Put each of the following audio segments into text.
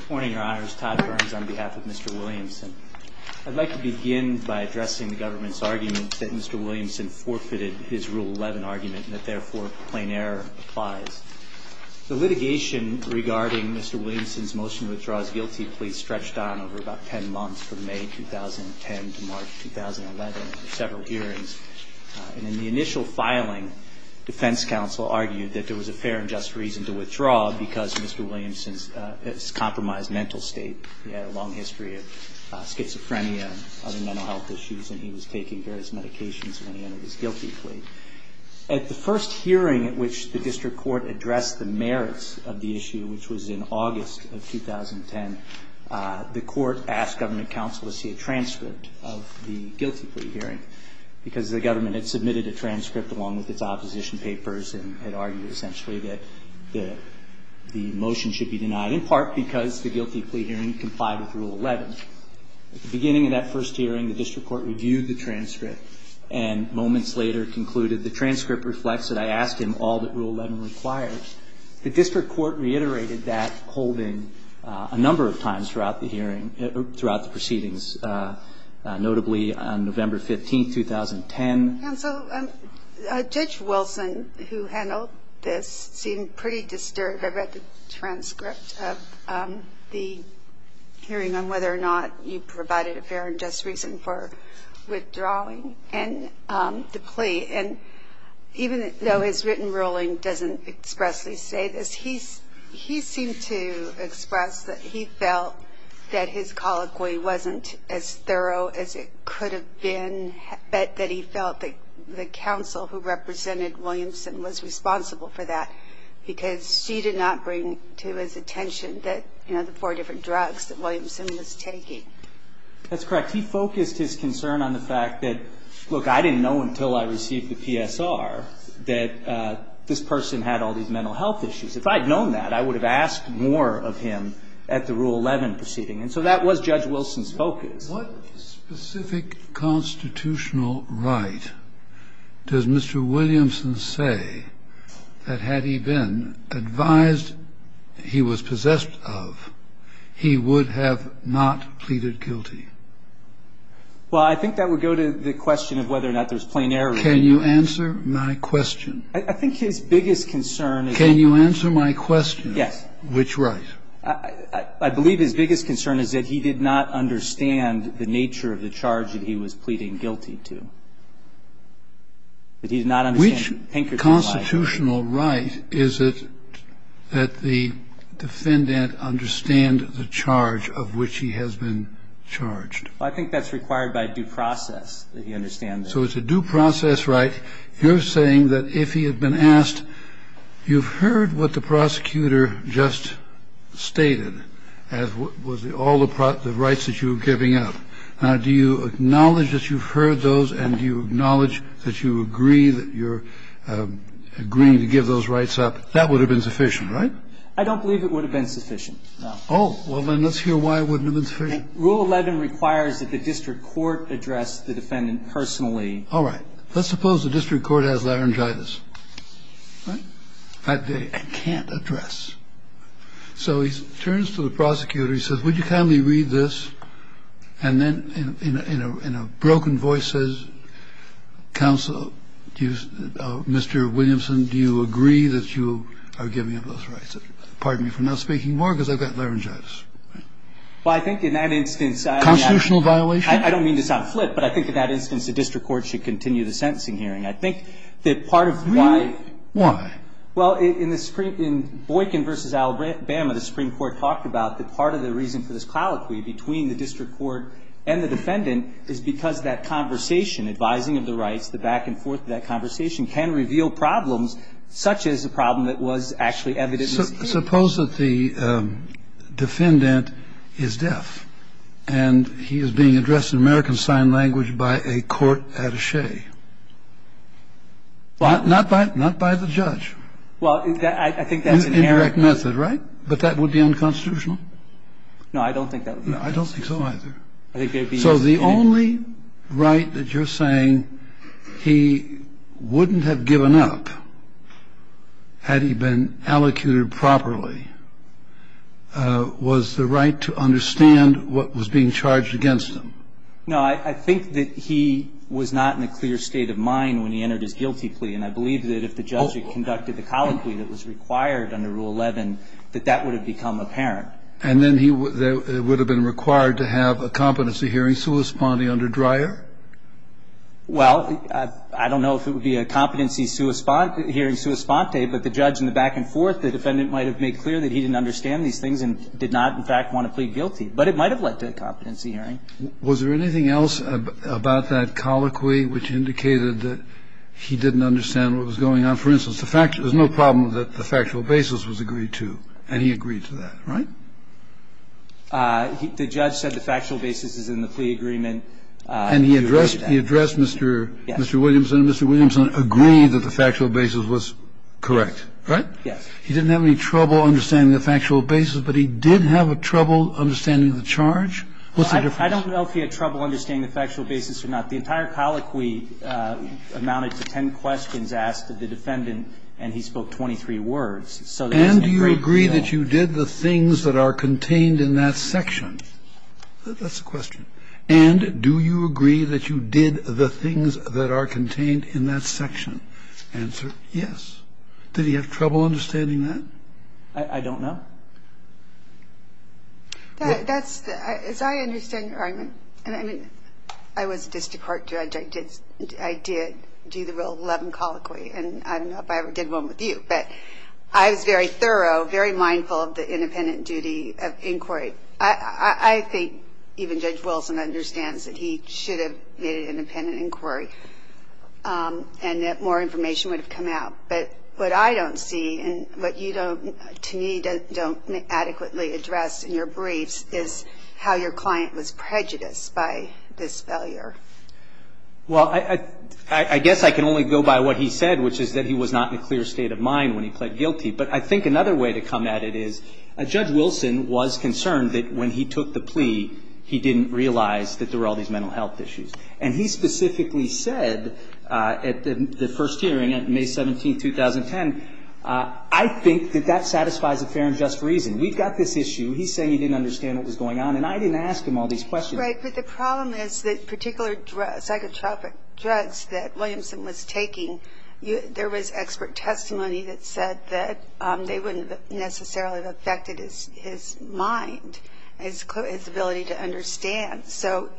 Good morning, your honors. Todd Burns on behalf of Mr. Williamson. I'd like to begin by addressing the government's argument that Mr. Williamson forfeited his Rule 11 argument and that therefore, plain error applies. The litigation regarding Mr. Williamson's motion to withdraw his guilty plea stretched on over about 10 months from May 2010 to March 2011, several hearings. And in the initial filing, defense counsel argued that there was a fair and just reason to withdraw because Mr. Williamson's compromised mental state. He had a long history of schizophrenia and other mental health issues and he was taking various medications when he entered his guilty plea. At the first hearing at which the district court addressed the merits of the issue, which was in August of 2010, the court asked government counsel to see a transcript of the guilty plea hearing. Because the government had submitted a transcript along with its opposition papers and had argued essentially that the motion should be denied, in part because the guilty plea hearing complied with Rule 11. At the beginning of that first hearing, the district court reviewed the transcript and moments later concluded the transcript reflects that I asked him all that Rule 11 requires. The district court reiterated that holding a number of times throughout the hearing, throughout the proceedings, notably on November 15, 2010. And so Judge Wilson, who handled this, seemed pretty disturbed about the transcript of the hearing on whether or not you provided a fair and just reason for withdrawing and the plea. And even though his written ruling doesn't expressly say this, he seemed to express that he felt that his colloquy wasn't as thorough as it could have been, but that he felt that the counsel who represented Williamson was responsible for that because she did not bring to his attention the four different drugs that Williamson was taking. That's correct. He focused his concern on the fact that, look, I didn't know until I received the PSR that this person had all these mental health issues. If I had known that, I would have asked more of him at the Rule 11 proceeding. And so that was Judge Wilson's focus. What specific constitutional right does Mr. Williamson say that had he been advised he was possessed of, he would have not pleaded guilty? Well, I think that would go to the question of whether or not there's plain error. Can you answer my question? I think his biggest concern is that he did not understand. Can you answer my question? Yes. Which right? I believe his biggest concern is that he did not understand the nature of the charge that he was pleading guilty to. That he did not understand Pinkerton. Which constitutional right is it that the defendant understand the charge of which he has been charged? I think that's required by due process that he understand that. So it's a due process right. All right. You're saying that if he had been asked, you've heard what the prosecutor just stated as was all the rights that you were giving up. Do you acknowledge that you've heard those and do you acknowledge that you agree that you're agreeing to give those rights up? That would have been sufficient, right? I don't believe it would have been sufficient. Oh. Rule 11 requires that the district court address the defendant personally. All right. Let's suppose the district court has laryngitis. Right. That they can't address. So he turns to the prosecutor. He says, would you kindly read this? And then in a broken voice says, counsel, Mr. Williamson, do you agree that you are giving up those rights? Pardon me for not speaking more because I've got laryngitis. Well, I think in that instance. Constitutional violation? I don't mean to sound flip, but I think in that instance the district court should continue the sentencing hearing. I think that part of why. Really? Why? Well, in Boykin v. Alabama, the Supreme Court talked about that part of the reason for this colloquy between the district court and the defendant is because that conversation, advising of the rights, the back and forth of that conversation can reveal problems such as a problem that was actually evident. Suppose that the defendant is deaf and he is being addressed in American Sign Language by a court attache. Not by the judge. Well, I think that's an error. An indirect method, right? But that would be unconstitutional. No, I don't think that would be unconstitutional. No, I don't think so either. So the only right that you're saying he wouldn't have given up had he been allocated properly was the right to understand what was being charged against him? No, I think that he was not in a clear state of mind when he entered his guilty plea. And I believe that if the judge had conducted the colloquy that was required under Rule 11, that that would have become apparent. And then he would have been required to have a competency hearing sua sponte under Dreyer? Well, I don't know if it would be a competency hearing sua sponte, but the judge in the back and forth, the defendant might have made clear that he didn't understand these things and did not, in fact, want to plead guilty. But it might have led to a competency hearing. Was there anything else about that colloquy which indicated that he didn't understand what was going on? No. No. No. The judge, for instance, the fact was no problem that the factual basis was agreed to, and he agreed to that, right? The judge said the factual basis is in the plea agreement. And he addressed Mr. Williamson. Mr. Williamson agreed that the factual basis was correct, right? Yes. He didn't have any trouble understanding the factual basis, but he did have a trouble understanding the charge. What's the difference? I don't know if he had trouble understanding the factual basis or not. The entire colloquy amounted to ten questions asked to the defendant, and he spoke 23 words. So there isn't a great deal. And do you agree that you did the things that are contained in that section? That's the question. And do you agree that you did the things that are contained in that section? Answer, yes. Did he have trouble understanding that? I don't know. That's, as I understand your argument, and I mean, I was a district court judge. I did do the Rule 11 colloquy, and I don't know if I ever did one with you. But I was very thorough, very mindful of the independent duty of inquiry. I think even Judge Wilson understands that he should have made an independent inquiry and that more information would have come out. But what I don't see and what you don't, to me, don't adequately address in your briefs is how your client was prejudiced by this failure. Well, I guess I can only go by what he said, which is that he was not in a clear state of mind when he pled guilty. But I think another way to come at it is Judge Wilson was concerned that when he took the plea, he didn't realize that there were all these mental health issues. And he specifically said at the first hearing on May 17, 2010, I think that that satisfies a fair and just reason. We've got this issue. He's saying he didn't understand what was going on, and I didn't ask him all these questions. Right. But the problem is that particular psychotropic drugs that Williamson was taking, there was expert testimony that said that they wouldn't necessarily have affected his mind, his ability to understand. So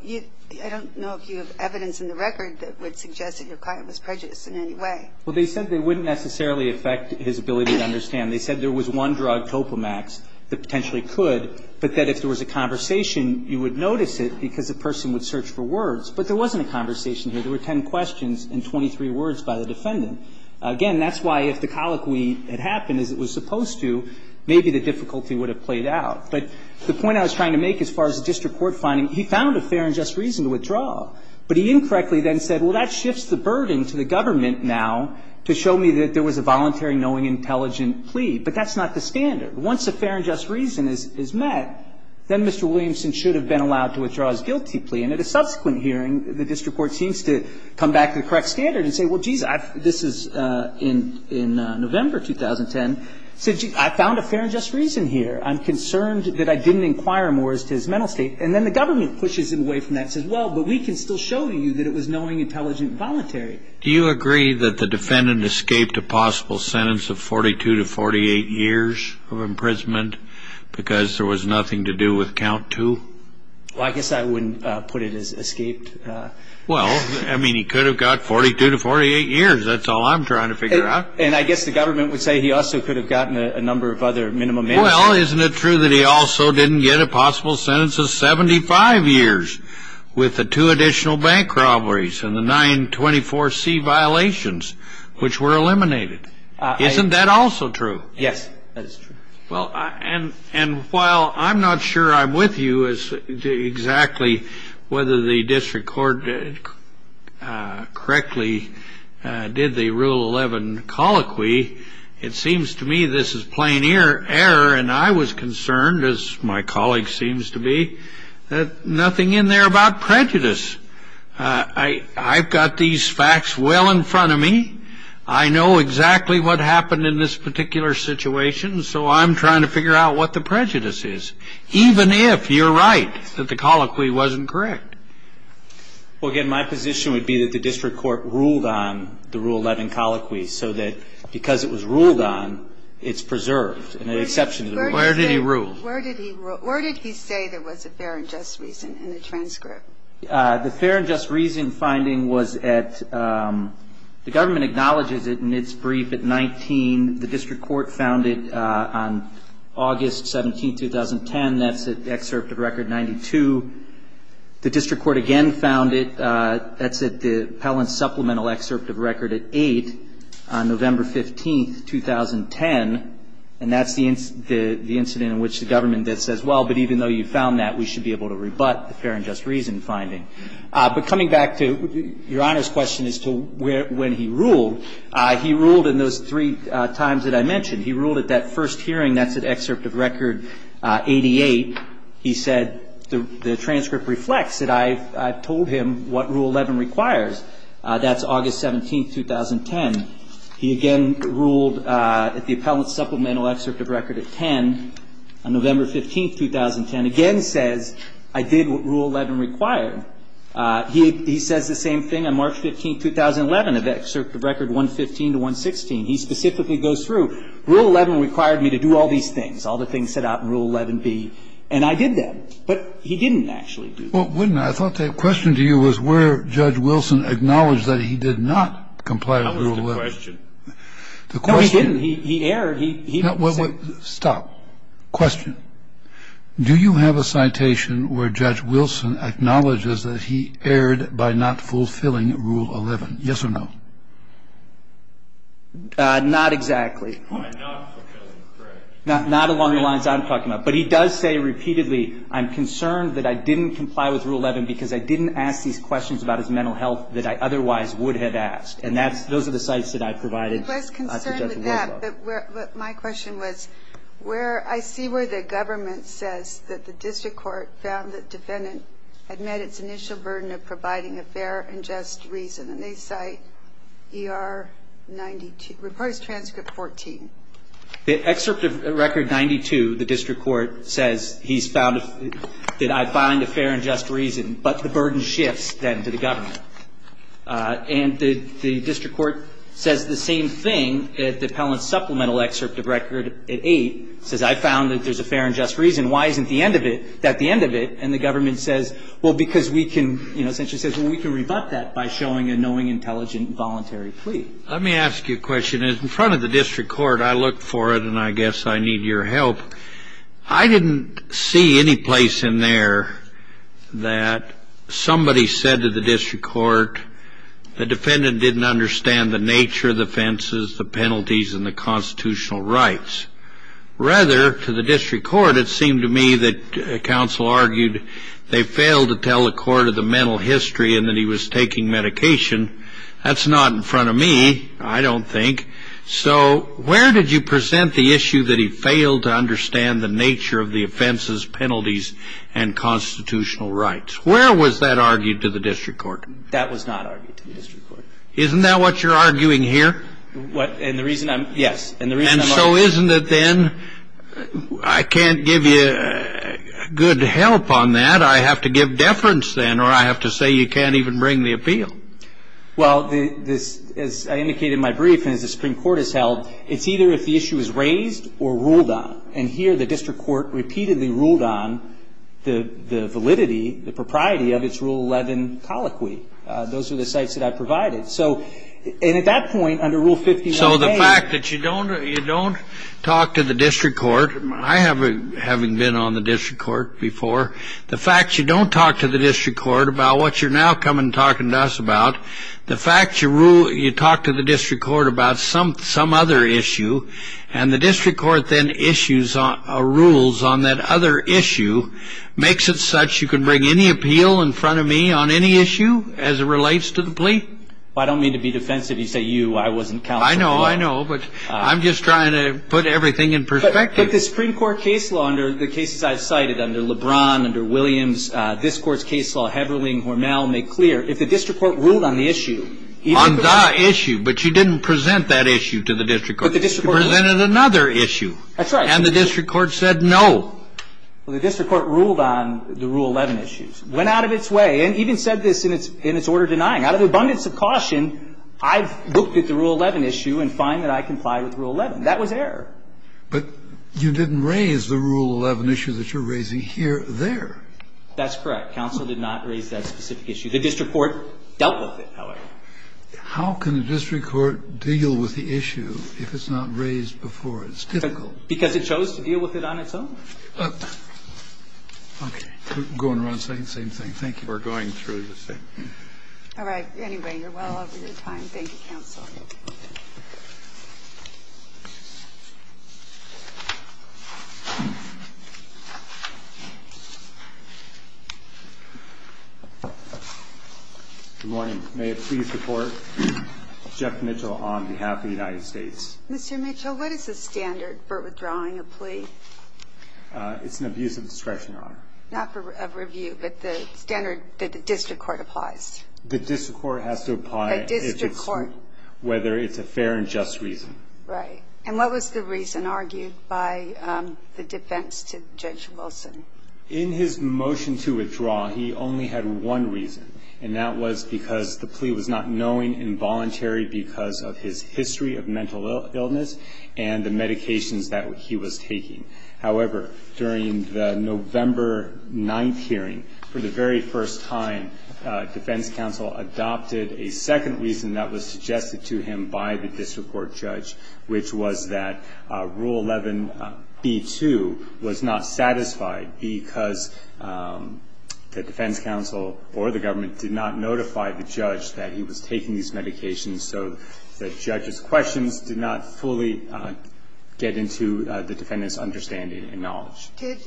I don't know if you have evidence in the record that would suggest that your client was prejudiced in any way. Well, they said they wouldn't necessarily affect his ability to understand. They said there was one drug, Topamax, that potentially could, but that if there was a conversation, you would notice it because the person would search for words. But there wasn't a conversation here. There were 10 questions and 23 words by the defendant. Again, that's why if the colloquy had happened as it was supposed to, maybe the difficulty would have played out. But the point I was trying to make as far as the district court finding, he found a fair and just reason to withdraw. But he incorrectly then said, well, that shifts the burden to the government now to show me that there was a voluntary, knowing, intelligent plea. But that's not the standard. Once a fair and just reason is met, then Mr. Williamson should have been allowed to withdraw his guilty plea. And at a subsequent hearing, the district court seems to come back to the correct standard and say, well, geez, this is in November 2010. He said, gee, I found a fair and just reason here. I'm concerned that I didn't inquire more as to his mental state. And then the government pushes him away from that and says, well, but we can still show you that it was knowing, intelligent, voluntary. Do you agree that the defendant escaped a possible sentence of 42 to 48 years of imprisonment because there was nothing to do with count two? Well, I guess I wouldn't put it as escaped. Well, I mean, he could have got 42 to 48 years. That's all I'm trying to figure out. And I guess the government would say he also could have gotten a number of other minimum sentences. Well, isn't it true that he also didn't get a possible sentence of 75 years with the two additional bank robberies and the 924C violations, which were eliminated? Isn't that also true? Yes, that is true. Well, and while I'm not sure I'm with you as to exactly whether the district court correctly did the Rule 11 colloquy, it seems to me this is plain error. And I was concerned, as my colleague seems to be, that nothing in there about prejudice. I've got these facts well in front of me. I know exactly what happened in this particular situation. So I'm trying to figure out what the prejudice is, even if you're right that the colloquy wasn't correct. Well, again, my position would be that the district court ruled on the Rule 11 colloquy, so that because it was ruled on, it's preserved. Where did he rule? Where did he say there was a fair and just reason in the transcript? The fair and just reason finding was at the government acknowledges it in its brief at 19. The district court found it on August 17, 2010. That's an excerpt of Record 92. The district court again found it. That's at the Pellants Supplemental Excerpt of Record at 8 on November 15, 2010. And that's the incident in which the government says, well, but even though you found that, we should be able to rebut the fair and just reason finding. But coming back to Your Honor's question as to when he ruled, he ruled in those three times that I mentioned. He ruled at that first hearing. That's at Excerpt of Record 88. He said the transcript reflects that I've told him what Rule 11 requires. That's August 17, 2010. He again ruled at the Pellants Supplemental Excerpt of Record at 10 on November 15, 2010. Again says I did what Rule 11 required. He says the same thing on March 15, 2011, at Excerpt of Record 115 to 116. He specifically goes through. Rule 11 required me to do all these things. All the things set out in Rule 11b. And I did them. But he didn't actually do them. Well, wouldn't I? I thought the question to you was where Judge Wilson acknowledged that he did not comply with Rule 11. That was the question. No, he didn't. He erred. He said. Stop. Question. Do you have a citation where Judge Wilson acknowledges that he erred by not fulfilling Rule 11? Yes or no? Not exactly. By not fulfilling, correct. Not along the lines I'm talking about. But he does say repeatedly I'm concerned that I didn't comply with Rule 11 because I didn't ask these questions about his mental health that I otherwise would have asked. And those are the cites that I provided to Judge Wilson. He was concerned with that. But my question was where I see where the government says that the district court found the defendant had met its initial burden of providing a fair and just reason. And they cite ER 92. Report is transcript 14. The excerpt of Record 92, the district court says he's found that I find a fair and just reason. But the burden shifts then to the government. And the district court says the same thing at the Pellant supplemental excerpt of Record 8. It says I found that there's a fair and just reason. Why isn't the end of it at the end of it? And the government says, well, because we can, you know, essentially says, well, we can rebut that by showing a knowing, intelligent, voluntary plea. Let me ask you a question. In front of the district court, I look for it, and I guess I need your help. I didn't see any place in there that somebody said to the district court the defendant didn't understand the nature of the offenses, the penalties, and the constitutional rights. Rather, to the district court, it seemed to me that counsel argued they failed to tell the court of the mental history and that he was taking medication. That's not in front of me, I don't think. So where did you present the issue that he failed to understand the nature of the offenses, penalties, and constitutional rights? Where was that argued to the district court? That was not argued to the district court. Isn't that what you're arguing here? And the reason I'm, yes. And the reason I'm arguing. And so isn't it then, I can't give you good help on that. I have to give deference then, or I have to say you can't even bring the appeal. Well, as I indicated in my brief, and as the Supreme Court has held, it's either if the issue is raised or ruled on. And here the district court repeatedly ruled on the validity, the propriety of its Rule 11 colloquy. Those are the sites that I provided. So, and at that point, under Rule 51A. So the fact that you don't talk to the district court, I haven't been on the district court before, the fact you don't talk to the district court about what you're now coming and talking to us about, the fact you talk to the district court about some other issue, and the district court then issues rules on that other issue, makes it such you can bring any appeal in front of me on any issue as it relates to the plea? Well, I don't mean to be defensive. You say you, I wasn't counsel. I know, I know. But I'm just trying to put everything in perspective. But the Supreme Court case law under the cases I've cited, under LeBron, under It's clear. If the district court ruled on the issue, even if it was not the issue, but you didn't present that issue to the district court. But the district court ruled. It presented another issue. That's right. And the district court said no. Well, the district court ruled on the Rule 11 issues. Went out of its way and even said this in its order denying. Out of the abundance of caution, I've looked at the Rule 11 issue and find that I comply with Rule 11. That was error. But you didn't raise the Rule 11 issue that you're raising here there. That's correct. Counsel did not raise that specific issue. The district court dealt with it, however. How can the district court deal with the issue if it's not raised before? It's difficult. Because it chose to deal with it on its own. Okay. Going around saying the same thing. Thank you for going through the same thing. All right. Anyway, you're well over your time. Thank you, counsel. Good morning. May it please the Court. Jeff Mitchell on behalf of the United States. Mr. Mitchell, what is the standard for withdrawing a plea? It's an abuse of discretion, Your Honor. Not for review, but the standard that the district court applies. The district court has to apply if it's. A fair and just reason. Right. And what was the reason argued by the defense to Judge Wilson? In his motion to withdraw, he only had one reason. And that was because the plea was not knowing and voluntary because of his history of mental illness and the medications that he was taking. However, during the November 9th hearing, for the very first time, defense counsel adopted a second reason that was suggested to him by the district court judge, which was that Rule 11b-2 was not satisfied because the defense counsel or the government did not notify the judge that he was taking these medications so the judge's questions did not fully get into the defendant's understanding and knowledge. Did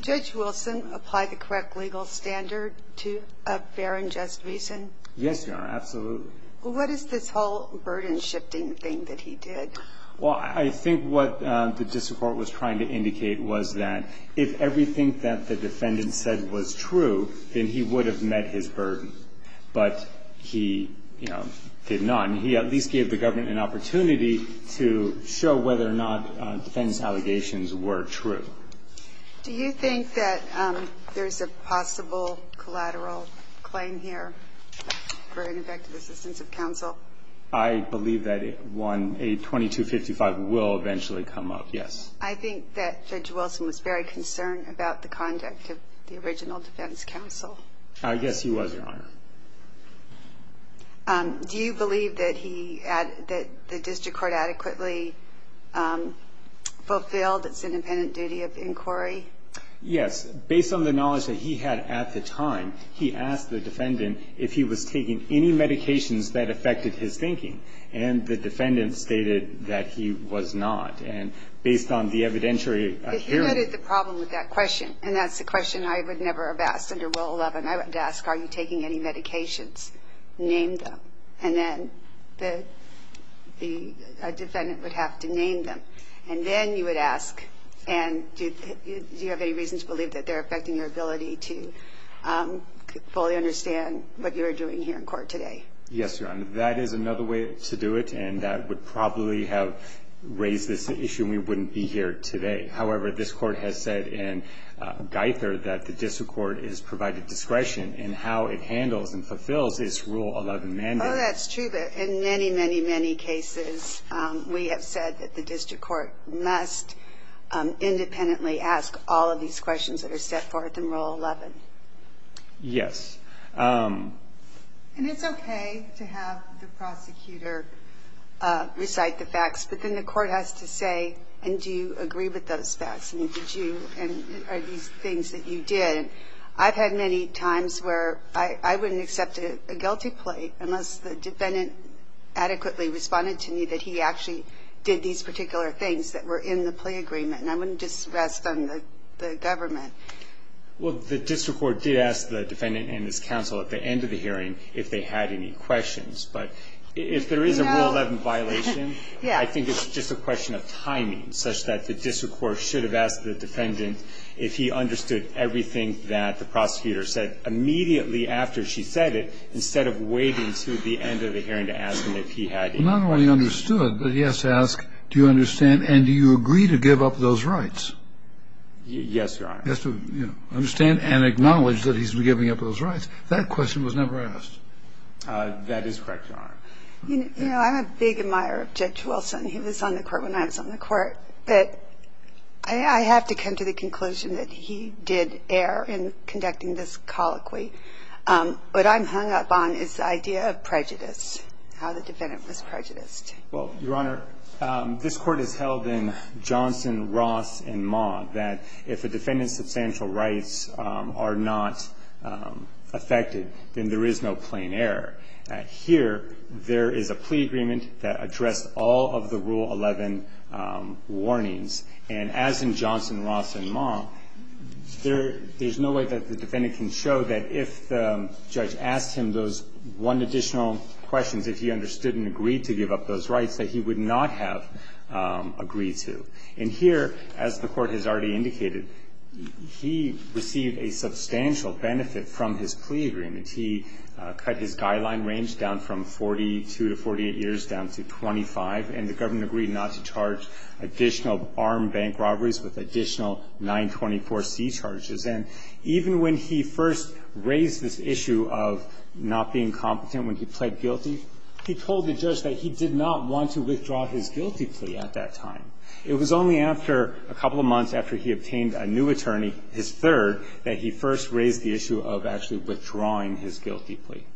Judge Wilson apply the correct legal standard to a fair and just reason? Yes, Your Honor. Absolutely. What is this whole burden-shifting thing that he did? Well, I think what the district court was trying to indicate was that if everything that the defendant said was true, then he would have met his burden. But he, you know, did not. And he at least gave the government an opportunity to show whether or not defense allegations were true. Do you think that there's a possible collateral claim here for ineffective assistance of counsel? I believe that a 2255 will eventually come up, yes. I think that Judge Wilson was very concerned about the conduct of the original defense counsel. Yes, he was, Your Honor. Do you believe that he, that the district court adequately fulfilled its independent duty of inquiry? Yes. Based on the knowledge that he had at the time, he asked the defendant if he was taking any medications that affected his thinking. And the defendant stated that he was not. And based on the evidentiary hearing. But he added the problem with that question. And that's the question I would never have asked under Rule 11. I would ask, are you taking any medications? Name them. And then the defendant would have to name them. And then you would ask, and do you have any reason to believe that they're affecting your ability to fully understand what you're doing here in court today? Yes, Your Honor. That is another way to do it. And that would probably have raised this issue and we wouldn't be here today. However, this court has said in Geither that the district court is provided discretion in how it handles and fulfills its Rule 11 mandate. Oh, that's true. But in many, many, many cases, we have said that the district court must independently ask all of these questions that are set forth in Rule 11. Yes. And it's okay to have the prosecutor recite the facts. But then the court has to say, and do you agree with those facts? And are these things that you did? I've had many times where I wouldn't accept a guilty plea unless the defendant adequately responded to me that he actually did these particular things that were in the plea agreement. And I wouldn't just rest on the government. Well, the district court did ask the defendant and his counsel at the end of the hearing if they had any questions. But if there is a Rule 11 violation, I think it's just a question of timing such that the district court should have asked the defendant if he understood everything that the prosecutor said immediately after she said it instead of waiting until the end of the hearing to ask him if he had any questions. Well, not only understood, but he has to ask, do you understand and do you agree to give up those rights? Yes, Your Honor. He has to, you know, understand and acknowledge that he's giving up those rights. That question was never asked. That is correct, Your Honor. You know, I'm a big admirer of Judge Wilson. He was on the court when I was on the court. But I have to come to the conclusion that he did err in conducting this colloquy. What I'm hung up on is the idea of prejudice, how the defendant was prejudiced. Well, Your Honor, this Court has held in Johnson, Ross, and Maugham that if a defendant's substantial rights are not affected, then there is no plain error. Here, there is a plea agreement that addressed all of the Rule 11 warnings. And as in Johnson, Ross, and Maugham, there's no way that the defendant can show that if the judge asked him those one additional questions, if he understood and agreed to give up those rights, that he would not have agreed to. And here, as the Court has already indicated, he received a substantial benefit from his plea agreement. He cut his guideline range down from 42 to 48 years down to 25. And the government agreed not to charge additional armed bank robberies with additional 924C charges. And even when he first raised this issue of not being competent when he pled guilty, he told the judge that he did not want to withdraw his guilty plea at that time. It was only after a couple of months after he obtained a new attorney, his third, that he first raised the issue of actually withdrawing his guilty plea. Kennedy.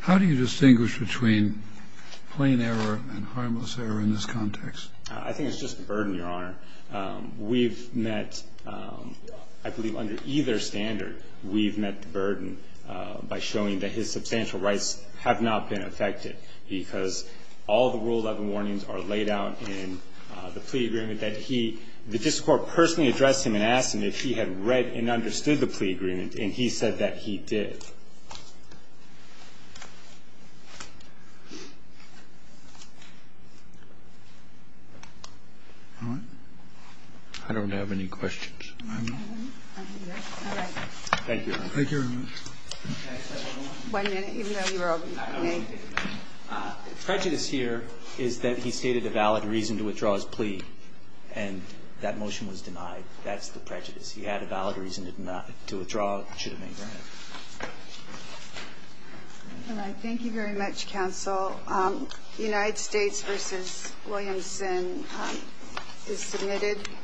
How do you distinguish between plain error and harmless error in this context? I think it's just the burden, Your Honor. We've met, I believe under either standard, we've met the burden by showing that his substantial rights have not been affected, because all the Rule 11 warnings are laid out in the plea agreement that he, that this Court personally addressed him and asked him if he had read and understood the plea agreement, and he said that he did. All right. I don't have any questions. All right. Thank you, Your Honor. Thank you very much. Can I say one more? One minute, even though you were open. Prejudice here is that he stated a valid reason to withdraw his plea, and that motion was denied. That's the prejudice. He had a valid reason to withdraw. It should have been granted. All right. Thank you very much, counsel. The United States v. Williamson is submitted.